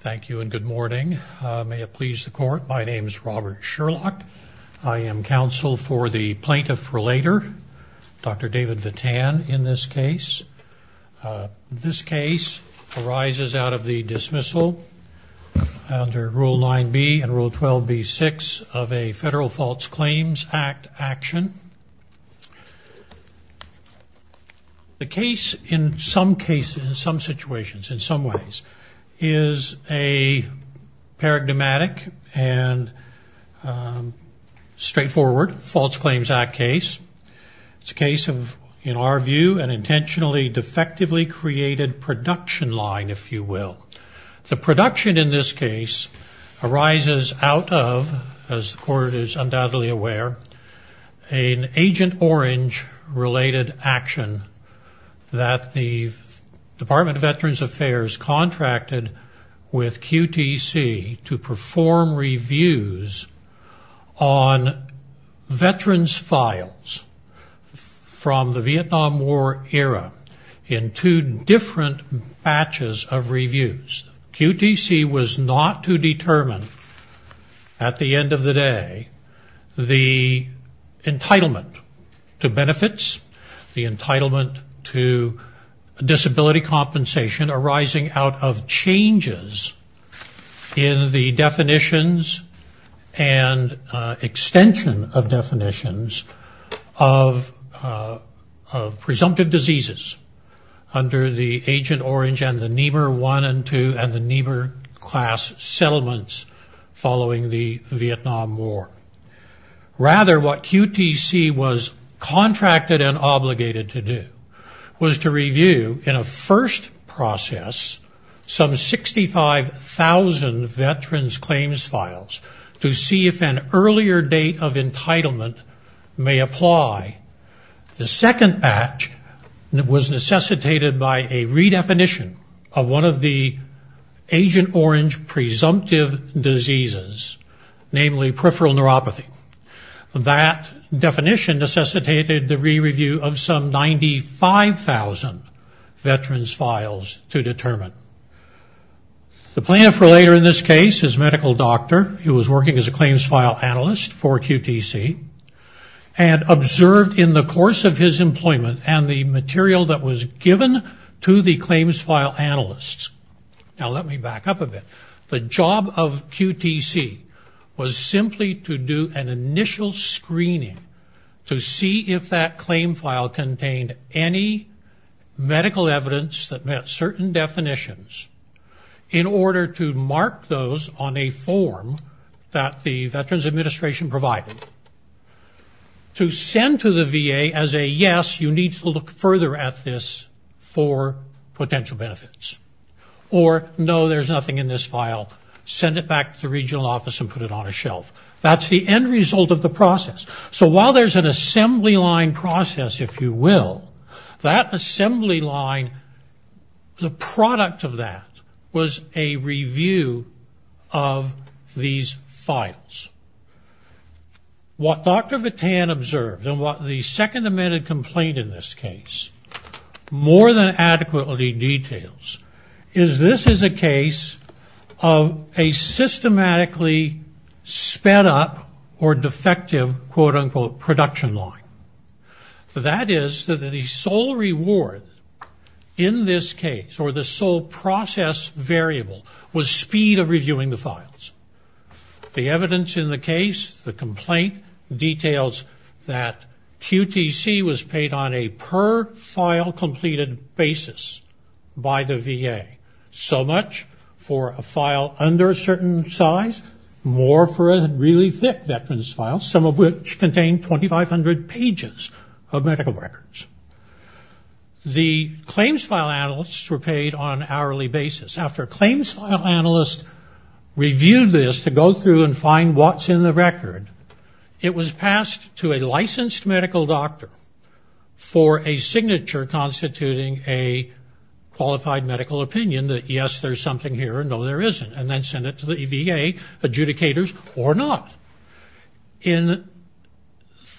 Thank you and good morning. May it please the court, my name is Robert Sherlock. I am counsel for the Plaintiff Relator, Dr. David Vatan, in this case. This case arises out of the dismissal under Rule 9b and Rule 12b-6 of a Federal Faults Claims Act action. The case, in some cases, in some situations, in some ways, is a paradigmatic and straightforward Faults Claims Act case. It's a case of, in our view, an intentionally defectively created production line, if you will. The production, in this case, arises out of, as the court is undoubtedly aware, an Agent Orange related action that the Department of Veterans Affairs contracted with QTC to perform reviews on veterans' files from the Vietnam War era in two different batches of reviews. QTC was not to determine, at the end of the day, the entitlement to benefits, the entitlement to disability compensation arising out of changes in the definitions and extension of definitions of presumptive diseases under the Agent Orange and the Niebuhr 1 and 2 and the Niebuhr class settlements following the Vietnam War. Rather, what QTC was contracted and obligated to do was to review, in a first process, some 65,000 veterans' claims files to see if an earlier date of entitlement may apply. The second batch was necessitated by a redefinition of one of the Agent Orange presumptive diseases, namely peripheral neuropathy. That definition necessitated the re-review of some 95,000 veterans' files to determine. The plaintiff for later in this case, his medical doctor, who was working as a claims file analyst for QTC, had observed in the course of his employment and the material that was given to the claims file analysts. Now, let me back up a bit. The job of QTC was simply to do an initial screening to see if that claim file contained any medical evidence that met certain definitions in order to mark those on a form that the Veterans Administration provided. To send to the VA as a yes, you need to look further at this for potential benefits. Or, no, there's nothing in this file, send it back to the regional office and put it on a shelf. That's the end result of the process. So while there's an assembly line process, if you will, that assembly line, the product of that was a review of these files. What Dr. Vatan observed and what the second amended complaint in this case more than adequately details is this is a case of a systematically sped up or defective, quote, unquote, production line. That is the sole reward in this case or the sole process variable was speed of reviewing the files. The evidence in the case, the complaint details that QTC was paid on a per file completed basis by the VA. So much for a file under a certain size, more for a really thick Veterans file, some of which contain 2,500 pages of medical records. The claims file analysts were paid on an hourly basis. After claims file analysts reviewed this to go through and find what's in the record, it was passed to a licensed medical doctor for a signature constituting a qualified medical opinion that, yes, there's something here, no, there isn't, and then send it to the VA adjudicators or not. In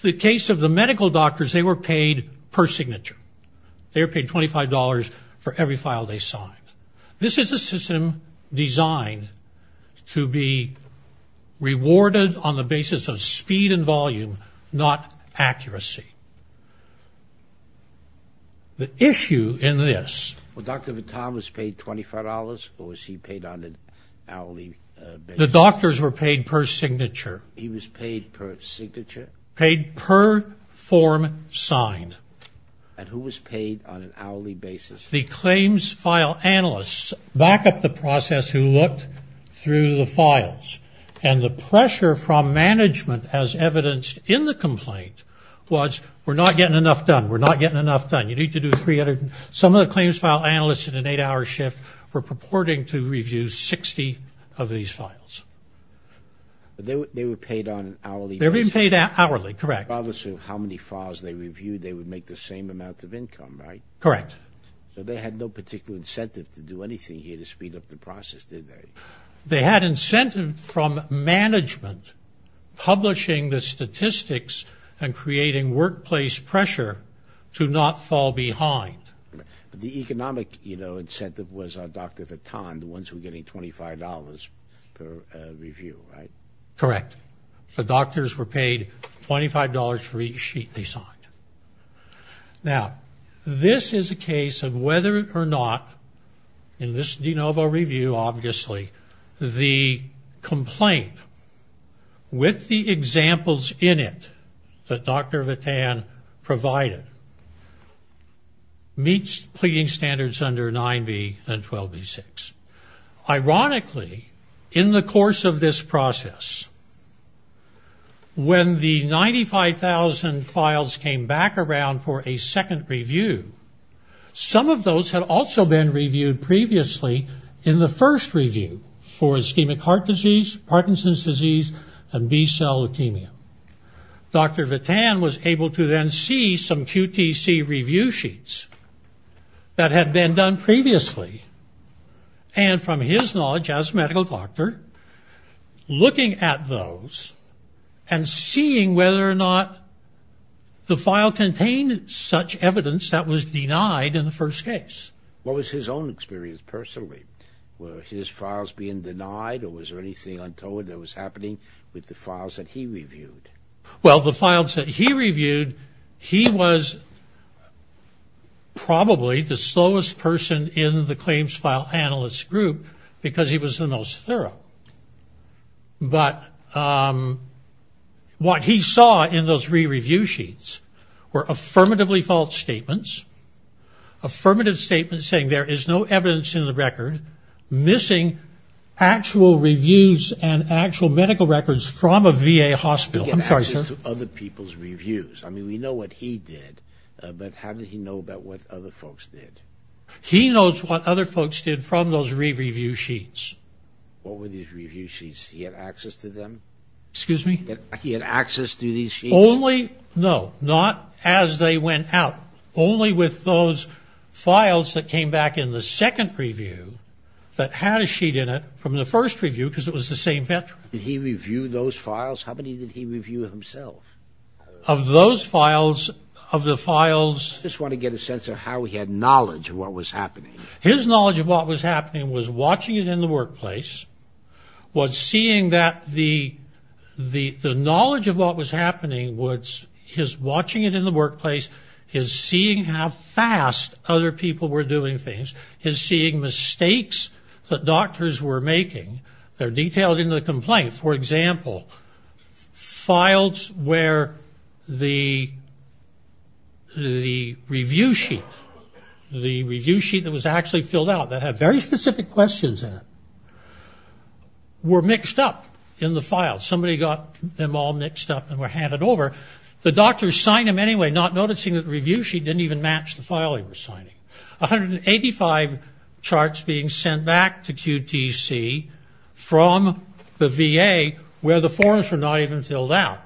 the case of the medical doctors, they were paid per signature. They were paid $25 for every file they signed. This is a system designed to be rewarded on the basis of speed and volume, not accuracy. The issue in this... Well, Dr. Vatan was paid $25 or was he paid on an hourly basis? The doctors were paid per signature. He was paid per signature? Paid per form signed. And who was paid on an hourly basis? The claims file analysts back up the process who looked through the files, and the pressure from management as evidenced in the complaint was, we're not getting enough done, we're not getting enough done, you need to do 300. Some of the claims file analysts in an eight-hour shift were purporting to review 60 of these files. But they were paid on an hourly basis? They were paid hourly, correct. Regardless of how many files they reviewed, they would make the same amount of income, right? Correct. So they had no particular incentive to do anything here to speed up the process, did they? They had incentive from management publishing the statistics and creating workplace pressure to not fall behind. The economic, you know, incentive was Dr. Vatan, the ones who were getting $25 per review, right? Correct. The doctors were paid $25 for each sheet they signed. Now, this is a case of whether or not, in this de novo review, obviously, the complaint with the examples in it that Dr. Vatan provided meets pleading standards under 9B and 12B6. Ironically, in the course of this process, when the 95,000 files came back around for a second review, some of those had also been reviewed previously in the first review for ischemic heart disease, Parkinson's disease, and B-cell leukemia. Dr. Vatan was able to then see some QTC review sheets that had been done previously, and from his knowledge as a medical doctor, looking at those and seeing whether or not the file contained such evidence that was denied in the first case. What was his own experience personally? Were his files being denied, or was there anything untold that was happening with the files that he reviewed? Well, the files that he reviewed, he was probably the slowest person in the claims file analyst group because he was the most thorough. But what he saw in those re-review sheets were affirmatively false statements, affirmative statements saying there is no evidence in the record, missing actual reviews and actual medical records from a VA hospital. I'm sorry, sir. You get access to other people's reviews. I mean, we know what he did, but how did he know about what other folks did? He knows what other folks did from those re-review sheets. What were these re-review sheets? He had access to them? Excuse me? He had access to these sheets? Only, no, not as they went out. Only with those files that came back in the second review that had a sheet in it from the first review because it was the same veteran. Did he review those files? How many did he review himself? Of those files, of the files. I just want to get a sense of how he had knowledge of what was happening. His knowledge of what was happening was watching it in the workplace, was seeing that the knowledge of what was happening was his watching it in the workplace, his seeing how fast other people were doing things, his seeing mistakes that doctors were making. They're detailed in the complaint. For example, files where the review sheet, the review sheet that was actually filled out, that had very specific questions in it, were mixed up in the file. Somebody got them all mixed up and were handed over. The doctors signed them anyway, not noticing that the review sheet didn't even match the file they were signing. 185 charts being sent back to QTC from the VA where the forms were not even filled out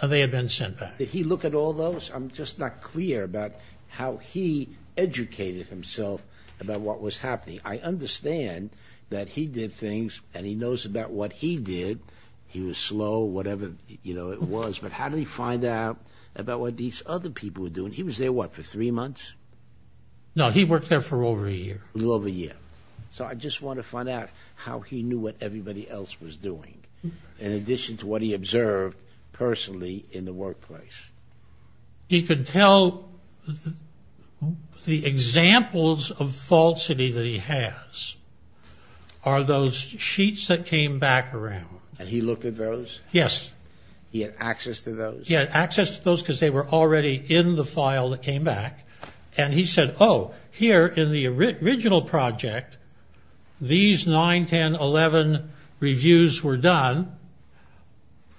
and they had been sent back. Did he look at all those? I'm just not clear about how he educated himself about what was happening. I understand that he did things and he knows about what he did. He was slow, whatever it was, but how did he find out about what these other people were doing? He was there, what, for three months? No, he worked there for over a year. A little over a year. So I just want to find out how he knew what everybody else was doing in addition to what he observed personally in the workplace. He could tell the examples of falsity that he has are those sheets that came back around. And he looked at those? Yes. He had access to those? He had access to those because they were already in the file that came back. And he said, oh, here in the original project, these 9, 10, 11 reviews were done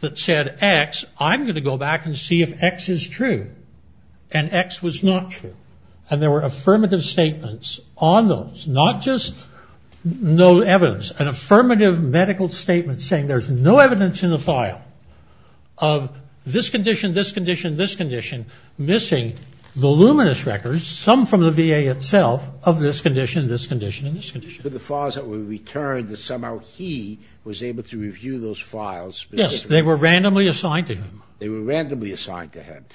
that said X. I'm going to go back and see if X is true. And X was not true. And there were affirmative statements on those, not just no evidence, an affirmative medical statement saying there's no evidence in the file of this condition, this condition, this condition, missing voluminous records, some from the VA itself of this condition, this condition, and this condition. But the files that were returned, somehow he was able to review those files. Yes, they were randomly assigned to him. They were randomly assigned to him.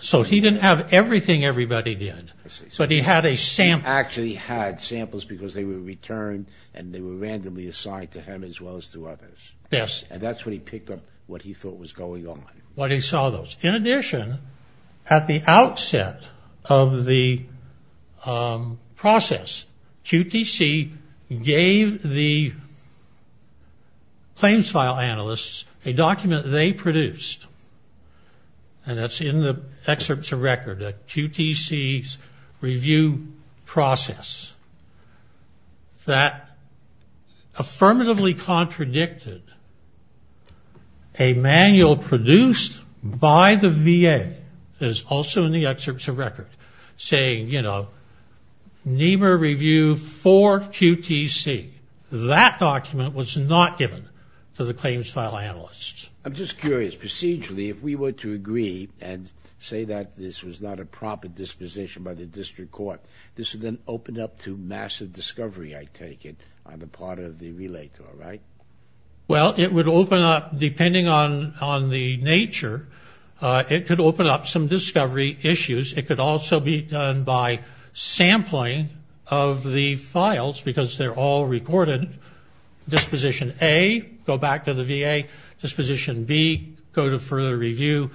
So he didn't have everything everybody did. But he had a sample. He actually had samples because they were returned and they were randomly assigned to him as well as to others. Yes. And that's when he picked up what he thought was going on. When he saw those. In addition, at the outset of the process, QTC gave the claims file analysts a document they produced, and that's in the excerpts of record, QTC's review process, that affirmatively contradicted a manual produced by the VA, that is also in the excerpts of record, saying, you know, NEMR review for QTC. That document was not given to the claims file analysts. I'm just curious. Procedurally, if we were to agree and say that this was not a proper disposition by the district court, this would then open up to massive discovery, I take it, on the part of the relator, right? Well, it would open up, depending on the nature, it could open up some discovery issues. It could also be done by sampling of the files because they're all recorded. Disposition A, go back to the VA. Disposition B, go to further review.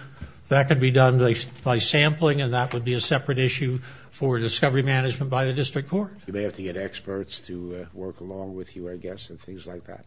That could be done by sampling, and that would be a separate issue for discovery management by the district court. You may have to get experts to work along with you, I guess, and things like that.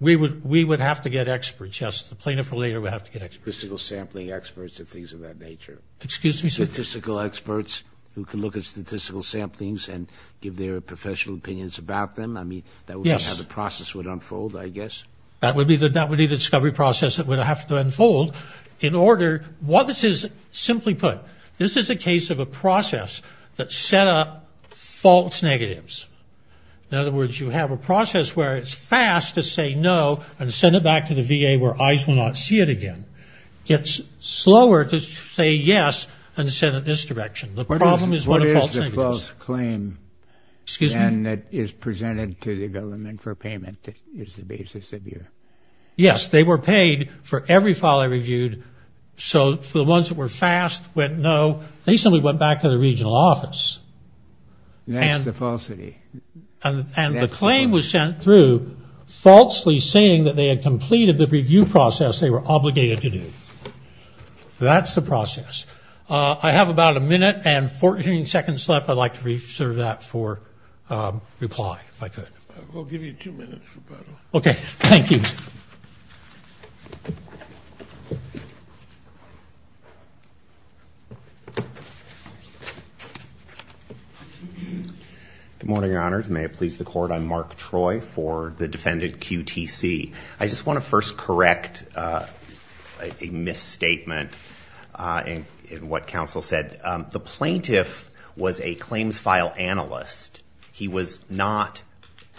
We would have to get experts, yes. The plaintiff or relator would have to get experts. Statistical sampling experts and things of that nature. Excuse me, sir? Statistical experts who can look at statistical samplings and give their professional opinions about them. I mean, that would be how the process would unfold, I guess. That would be the discovery process that would have to unfold. In order, what this is, simply put, this is a case of a process that set up false negatives. In other words, you have a process where it's fast to say no and send it back to the VA where eyes will not see it again. It's slower to say yes and send it this direction. The problem is what a false negative is. Excuse me? Yes, they were paid for every file they reviewed. So the ones that were fast went no. They simply went back to the regional office. That's the falsity. And the claim was sent through falsely saying that they had completed the review process they were obligated to do. That's the process. I have about a minute and 14 seconds left. I'd like to reserve that for reply, if I could. We'll give you two minutes, Roberto. Okay. Thank you. Good morning, Your Honors. May it please the Court. I'm Mark Troy for the defendant QTC. I just want to first correct a misstatement in what counsel said. The plaintiff was a claims file analyst. He was not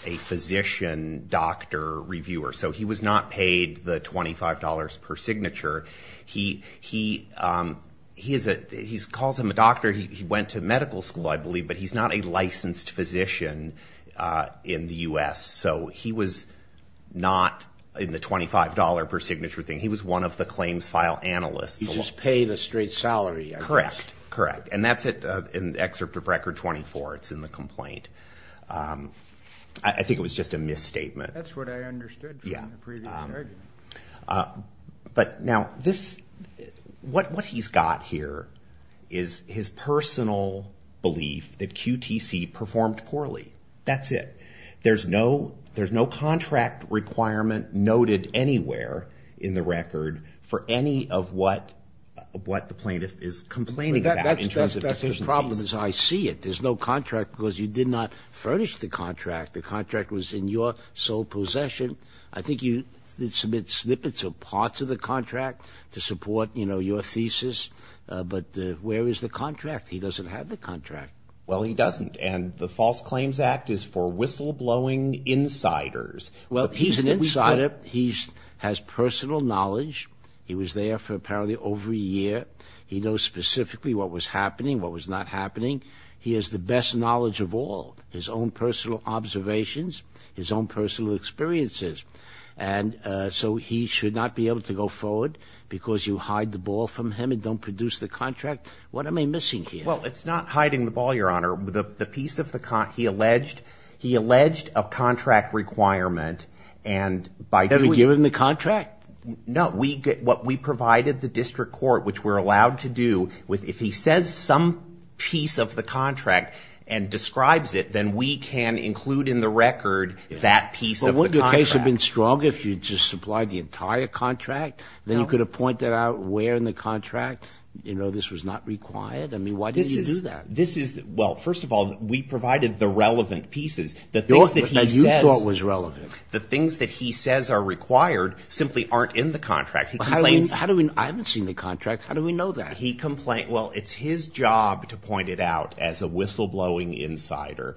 a physician doctor reviewer. So he was not paid the $25 per signature. He calls him a doctor. He went to medical school, I believe, but he's not a licensed physician in the U.S. So he was not in the $25 per signature thing. He was one of the claims file analysts. He just paid a straight salary. Correct. Correct. And that's in the excerpt of Record 24. It's in the complaint. I think it was just a misstatement. That's what I understood from the previous argument. But now, what he's got here is his personal belief that QTC performed poorly. That's it. There's no contract requirement noted anywhere in the record for any of what the plaintiff is complaining about. That's the problem is I see it. There's no contract because you did not furnish the contract. The contract was in your sole possession. I think you did submit snippets or parts of the contract to support, you know, your thesis. But where is the contract? He doesn't have the contract. Well, he doesn't. And the False Claims Act is for whistleblowing insiders. Well, he's an insider. He has personal knowledge. He was there for apparently over a year. He knows specifically what was happening, what was not happening. He has the best knowledge of all, his own personal observations, his own personal experiences. And so he should not be able to go forward because you hide the ball from him and don't produce the contract. Well, it's not hiding the ball, Your Honor. The piece of the contract he alleged, he alleged a contract requirement and by doing it. Have you given the contract? No. What we provided the district court, which we're allowed to do, if he says some piece of the contract and describes it, then we can include in the record that piece of the contract. But wouldn't your case have been stronger if you just supplied the entire contract? Then you could have pointed out where in the contract, you know, this was not required? I mean, why didn't you do that? This is, well, first of all, we provided the relevant pieces. The things that he says are required simply aren't in the contract. I haven't seen the contract. How do we know that? Well, it's his job to point it out as a whistleblowing insider.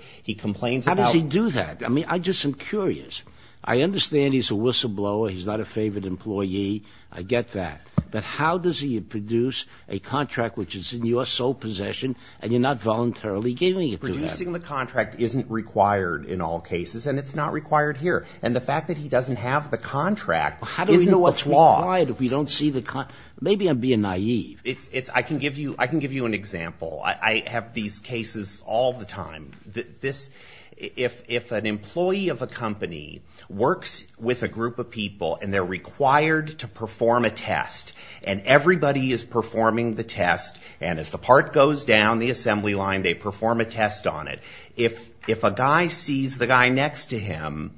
How does he do that? I mean, I just am curious. I understand he's a whistleblower. He's not a favored employee. I get that. But how does he produce a contract which is in your sole possession and you're not voluntarily giving it to him? Producing the contract isn't required in all cases, and it's not required here. And the fact that he doesn't have the contract isn't a flaw. How do we know it's required if we don't see the contract? Maybe I'm being naive. I can give you an example. I have these cases all the time. If an employee of a company works with a group of people and they're required to perform a test, and everybody is performing the test, and as the part goes down the assembly line, they perform a test on it, if a guy sees the guy next to him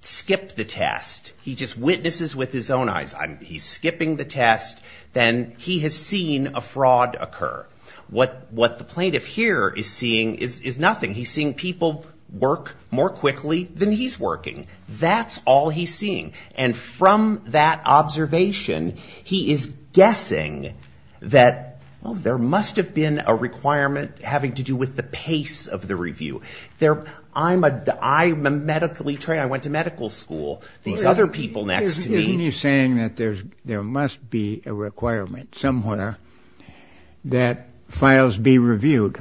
skip the test, he just witnesses with his own eyes, he's skipping the test, then he has seen a fraud occur. What the plaintiff here is seeing is nothing. He's seeing people work more quickly than he's working. That's all he's seeing. And from that observation, he is guessing that, well, there must have been a requirement having to do with the pace of the review. I'm a medically trained. I went to medical school. These other people next to me. He's saying that there must be a requirement somewhere that files be reviewed,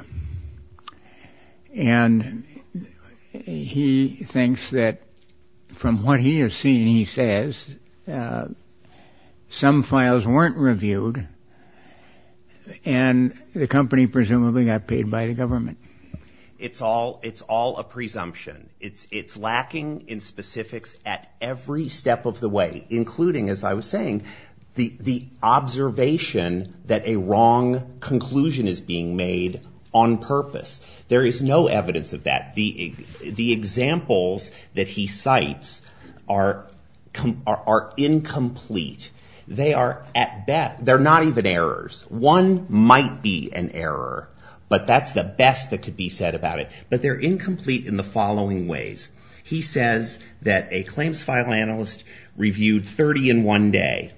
and he thinks that from what he has seen, he says, some files weren't reviewed and the company presumably got paid by the government. It's all a presumption. It's lacking in specifics at every step of the way, including, as I was saying, the observation that a wrong conclusion is being made on purpose. There is no evidence of that. The examples that he cites are incomplete. They are not even errors. One might be an error, but that's the best that could be said about it. But they're incomplete in the following ways. He says that a claims file analyst reviewed 30 in one day,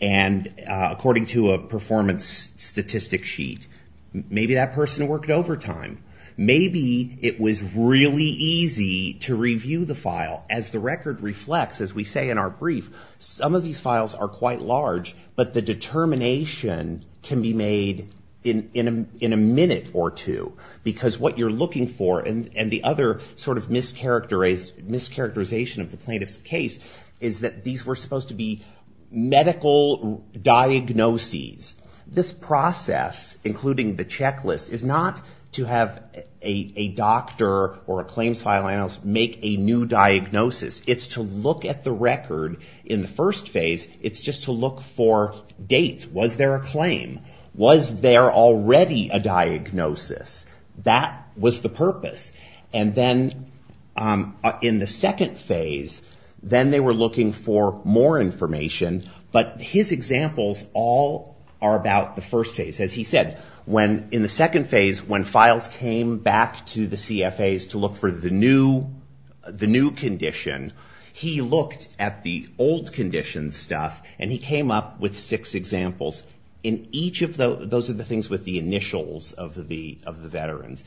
and according to a performance statistic sheet, maybe that person worked overtime. Maybe it was really easy to review the file. As the record reflects, as we say in our brief, some of these files are quite large, but the determination can be made in a minute or two, because what you're looking for and the other sort of mischaracterization of the plaintiff's case is that these were supposed to be medical diagnoses. This process, including the checklist, is not to have a doctor or a claims file analyst make a new diagnosis. It's to look at the record in the first phase. It's just to look for dates. Was there a claim? Was there already a diagnosis? That was the purpose. And then in the second phase, then they were looking for more information, but his examples all are about the first phase. As he said, in the second phase, when files came back to the CFAs to look for the new condition, he looked at the old condition stuff, and he came up with six examples. Those are the things with the initials of the veterans.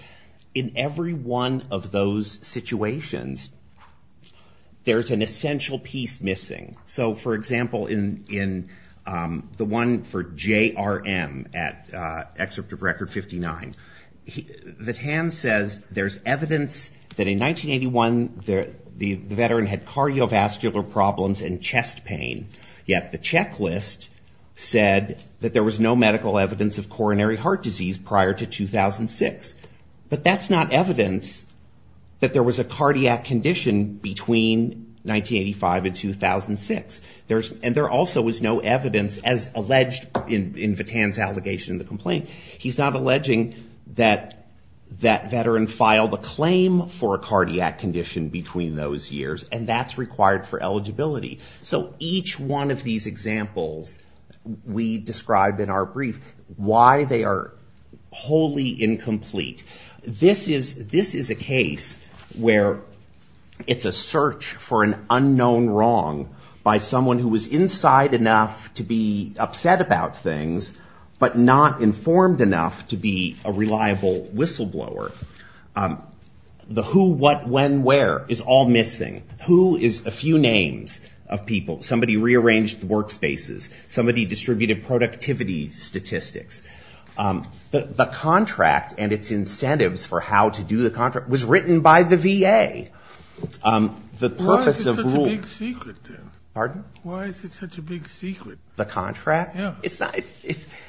In every one of those situations, there's an essential piece missing. So, for example, in the one for J.R.M. at Excerpt of Record 59, the TAN says there's evidence that in 1981, the veteran had cardiovascular problems and chest pain, yet the checklist said that there was no medical evidence of coronary heart disease prior to 2006. But that's not evidence that there was a cardiac condition between 1985 and 2006. And there also was no evidence, as alleged in Vitanne's allegation in the complaint, he's not alleging that that veteran filed a claim for a cardiac condition between those years, and that's required for eligibility. So each one of these examples we describe in our brief, why they are wholly incomplete. This is a case where it's a search for an unknown wrong by someone who was inside enough to be upset about things, but not informed enough to be a reliable whistleblower. The who, what, when, where is all missing. Who is a few names of people. Somebody rearranged the workspaces. Somebody distributed productivity statistics. The contract and its incentives for how to do the contract was written by the VA. The purpose of rule. Why is it such a big secret, then? Pardon? Why is it such a big secret? The contract?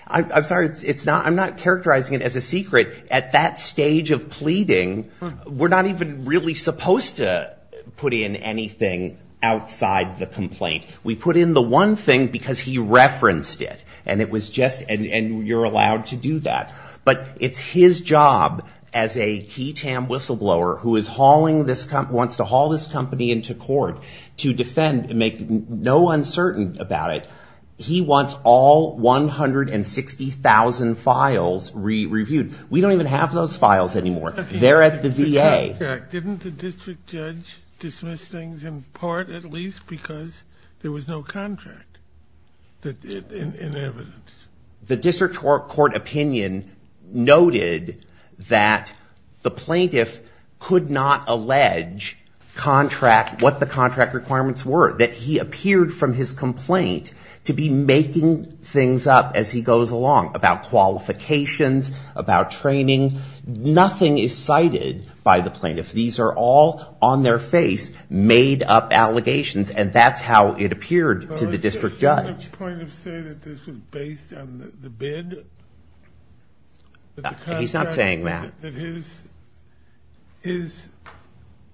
I'm sorry, I'm not characterizing it as a secret. At that stage of pleading, we're not even really supposed to put in anything outside the complaint. We put in the one thing because he referenced it, and it was just, and you're allowed to do that. But it's his job as a key TAM whistleblower who wants to haul this company into court to defend and make no uncertain about it. He wants all 160,000 files re-reviewed. We don't even have those files anymore. They're at the VA. Didn't the district judge dismiss things in part at least because there was no contract in evidence? The district court opinion noted that the plaintiff could not allege what the contract requirements were. That he appeared from his complaint to be making things up as he goes along about qualifications, about training. Nothing is cited by the plaintiff. These are all on their face, made-up allegations, and that's how it appeared to the district judge. The plaintiff said that this was based on the bid. He's not saying that. That his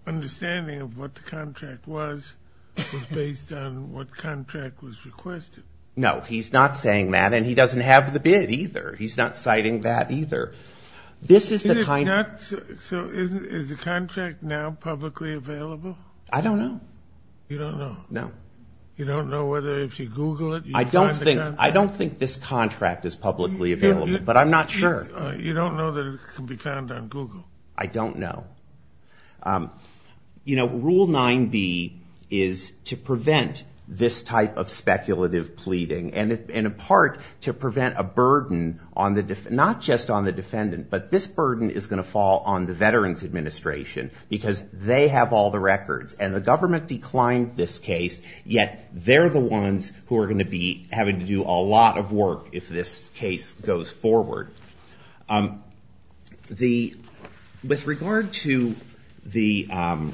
understanding of what the contract was was based on what contract was requested. No, he's not saying that, and he doesn't have the bid either. He's not citing that either. So is the contract now publicly available? I don't know. You don't know? No. You don't know whether if you Google it, you can find the contract? I don't think this contract is publicly available, but I'm not sure. You don't know that it can be found on Google? I don't know. Rule 9b is to prevent this type of speculative pleading and, in part, to prevent a burden, not just on the defendant, but this burden is going to fall on the Veterans Administration because they have all the records, and the government declined this case, yet they're the ones who are going to be having to do a lot of work if this case goes forward. With regard to the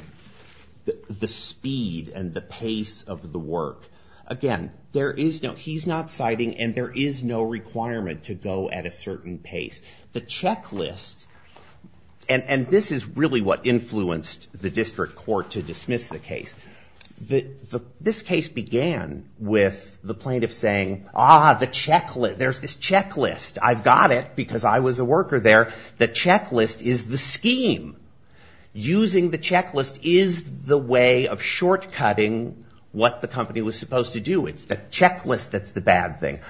speed and the pace of the work, again, there is no, he's not citing, and there is no requirement to go at a certain pace. The checklist, and this is really what influenced the district court to dismiss the case, this case began with the plaintiff saying, ah, the checklist, there's this checklist, I've got it because I was a worker there. The checklist is the scheme. Using the checklist is the way of short-cutting what the company was supposed to do. It's the checklist that's the bad thing.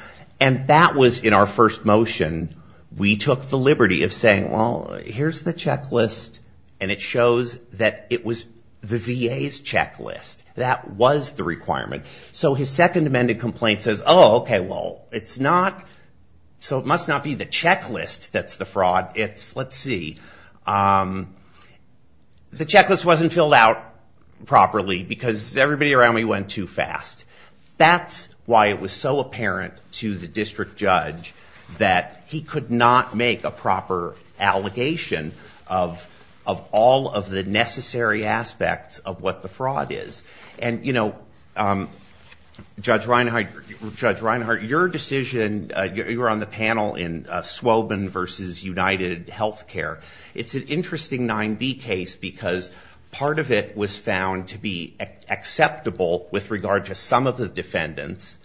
And that was, in our first motion, we took the liberty of saying, well, here's the checklist, and it shows that it was the VA's checklist. That was the requirement. So his second amended complaint says, oh, okay, well, it's not, so it must not be the checklist that's the fraud, it's, let's see, the checklist wasn't filled out properly because everybody around me went too fast. That's why it was so apparent to the district judge that he could not make a proper allegation of all of the necessary aspects of what the fraud is. And, you know, Judge Reinhardt, your decision, you were on the panel in Swobin v. UnitedHealthcare. It's an interesting 9B case because part of it was found to be acceptable with regard to some of the defendants,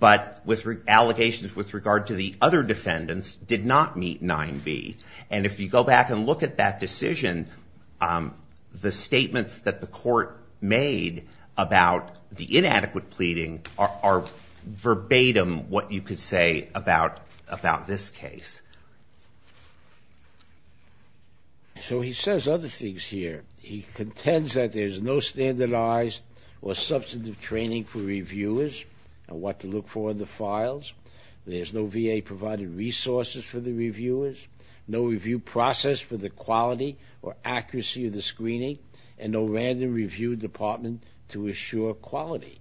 but allegations with regard to the other defendants did not meet 9B. And if you go back and look at that decision, the statements that the court made about the inadequate pleading are verbatim what you could say about this case. So he says other things here. He contends that there's no standardized or substantive training for reviewers on what to look for in the files. There's no VA-provided resources for the reviewers, no review process for the quality or accuracy of the screening, and no random review department to assure quality.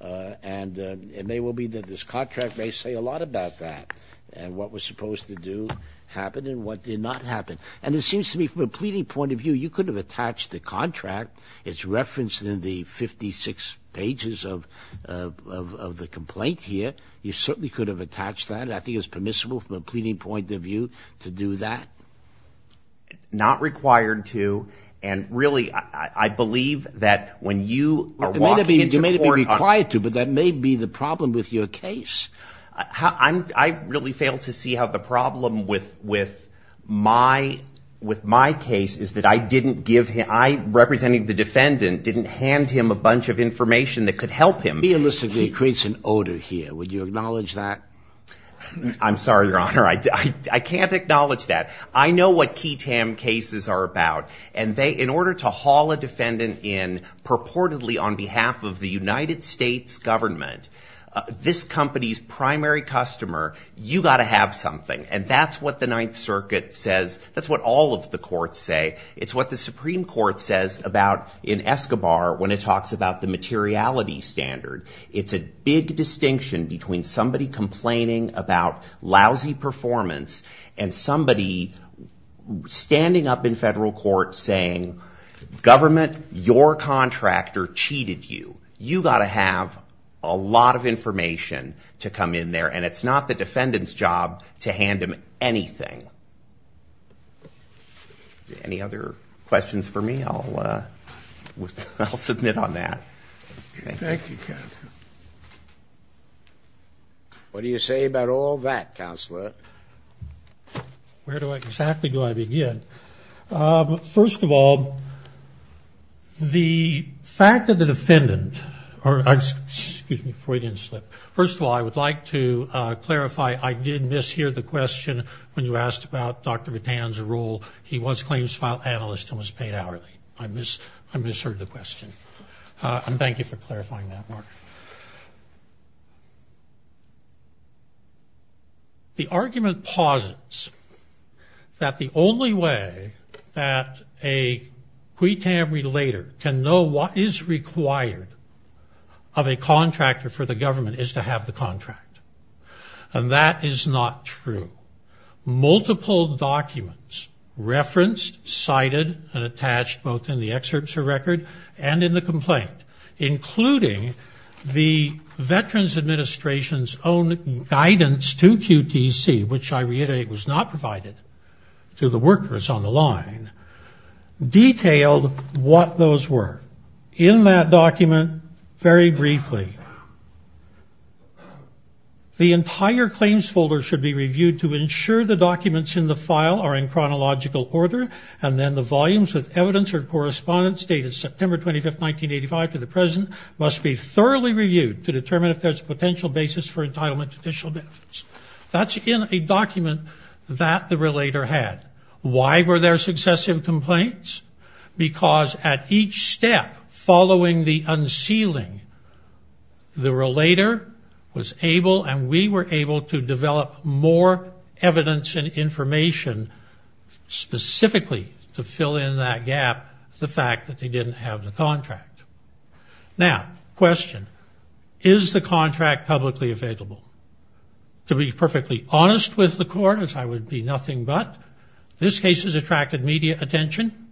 And it may well be that this contract may say a lot about that and what was supposed to do happen and what did not happen. And it seems to me from a pleading point of view, you could have attached the contract as referenced in the 56 pages of the complaint here. You certainly could have attached that. I think it's permissible from a pleading point of view to do that. Not required to. And really, I believe that when you are walking into court on... It may not be required to, but that may be the problem with your case. I really fail to see how the problem with my case is that I didn't give him... I, representing the defendant, didn't hand him a bunch of information that could help him. He illicitly creates an odor here. Would you acknowledge that? I'm sorry, Your Honor. I can't acknowledge that. I know what key TAM cases are about, and in order to haul a defendant in purportedly on behalf of the United States government, this company's primary customer, you've got to have something. And that's what the Ninth Circuit says. That's what all of the courts say. It's what the Supreme Court says about, in Escobar, when it talks about the materiality standard. It's a big distinction between somebody complaining about lousy performance and somebody standing up in federal court saying, government, your contractor cheated you. You've got to have a lot of information to come in there, and it's not the defendant's job to hand him anything. Any other questions for me? I'll submit on that. Thank you, Counselor. What do you say about all that, Counselor? Where do I exactly go? I begin. First of all, the fact that the defendant... Excuse me, before I didn't slip. First of all, I would like to clarify, I did mishear the question when you asked about Dr. Vitan's role. He was claims file analyst and was paid hourly. I misheard the question. And thank you for clarifying that, Mark. The argument posits that the only way that a Cuitam relator can know what is required of a contractor for the government is to have the contract. And that is not true. Multiple documents referenced, cited, and attached both in the excerpts of record and in the complaint, including the Veterans Administration's own guidance to QTC, which I reiterate was not provided to the workers on the line, detailed what those were. In that document, very briefly, the entire claims folder should be reviewed to ensure the documents in the file are in chronological order and then the volumes with evidence or correspondence dated September 25, 1985 to the present must be thoroughly reviewed to determine if there's a potential basis for entitlement to judicial benefits. That's in a document that the relator had. Why were there successive complaints? Because at each step following the unsealing, the relator was able and we were able to develop more evidence and information specifically to fill in that gap, the fact that they didn't have the contract. Now, question. Is the contract publicly available? To be perfectly honest with the court, as I would be nothing but, this case has attracted media attention.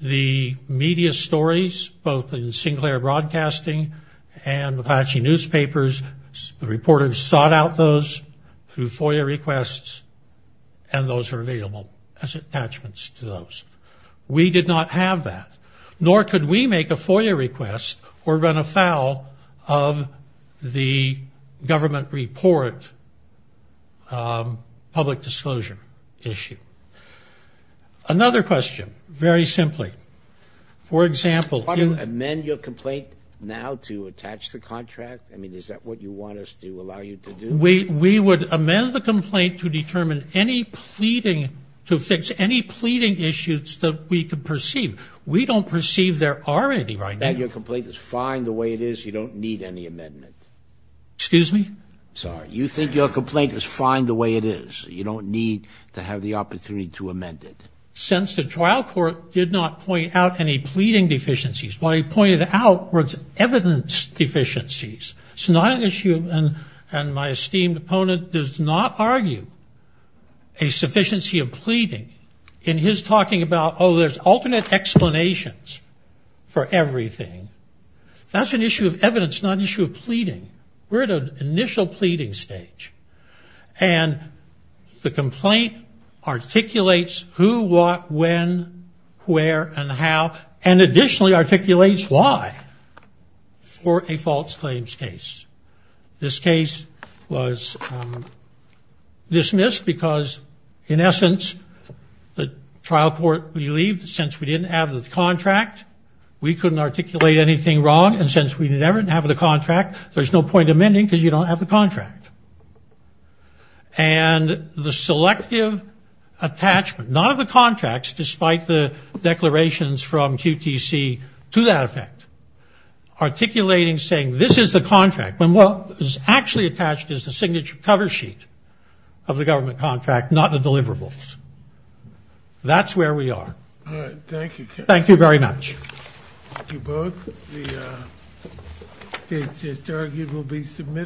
The media stories, both in Sinclair Broadcasting and Apache Newspapers, the reporters sought out those through FOIA requests and those were available as attachments to those. We did not have that. Nor could we make a FOIA request or run afoul of the government report public disclosure issue. Another question, very simply. For example... How do you amend your complaint now to attach the contract? I mean, is that what you want us to allow you to do? We would amend the complaint to determine any pleading, to fix any pleading issues that we could perceive. We don't perceive there are any right now. Your complaint is fine the way it is. You don't need any amendment. Excuse me? Sorry. You think your complaint is fine the way it is. You don't need to have the opportunity to amend it. Since the trial court did not point out any pleading deficiencies, what I pointed out was evidence deficiencies. And my esteemed opponent does not argue a sufficiency of pleading in his talking about, oh, there's alternate explanations for everything. That's an issue of evidence, not an issue of pleading. We're at an initial pleading stage. And the complaint articulates who, what, when, where, and how, and additionally articulates why for a false claims case. This case was dismissed because, in essence, the trial court believed, since we didn't have the contract, we couldn't articulate anything wrong. And since we didn't have the contract, there's no point amending because you don't have the contract. And the selective attachment, none of the contracts, despite the declarations from QTC to that effect, articulating saying this is the contract when what is actually attached is the signature cover sheet of the government contract, not the deliverables. That's where we are. Thank you. Thank you very much. Thank you both. It's argued we'll be submitting.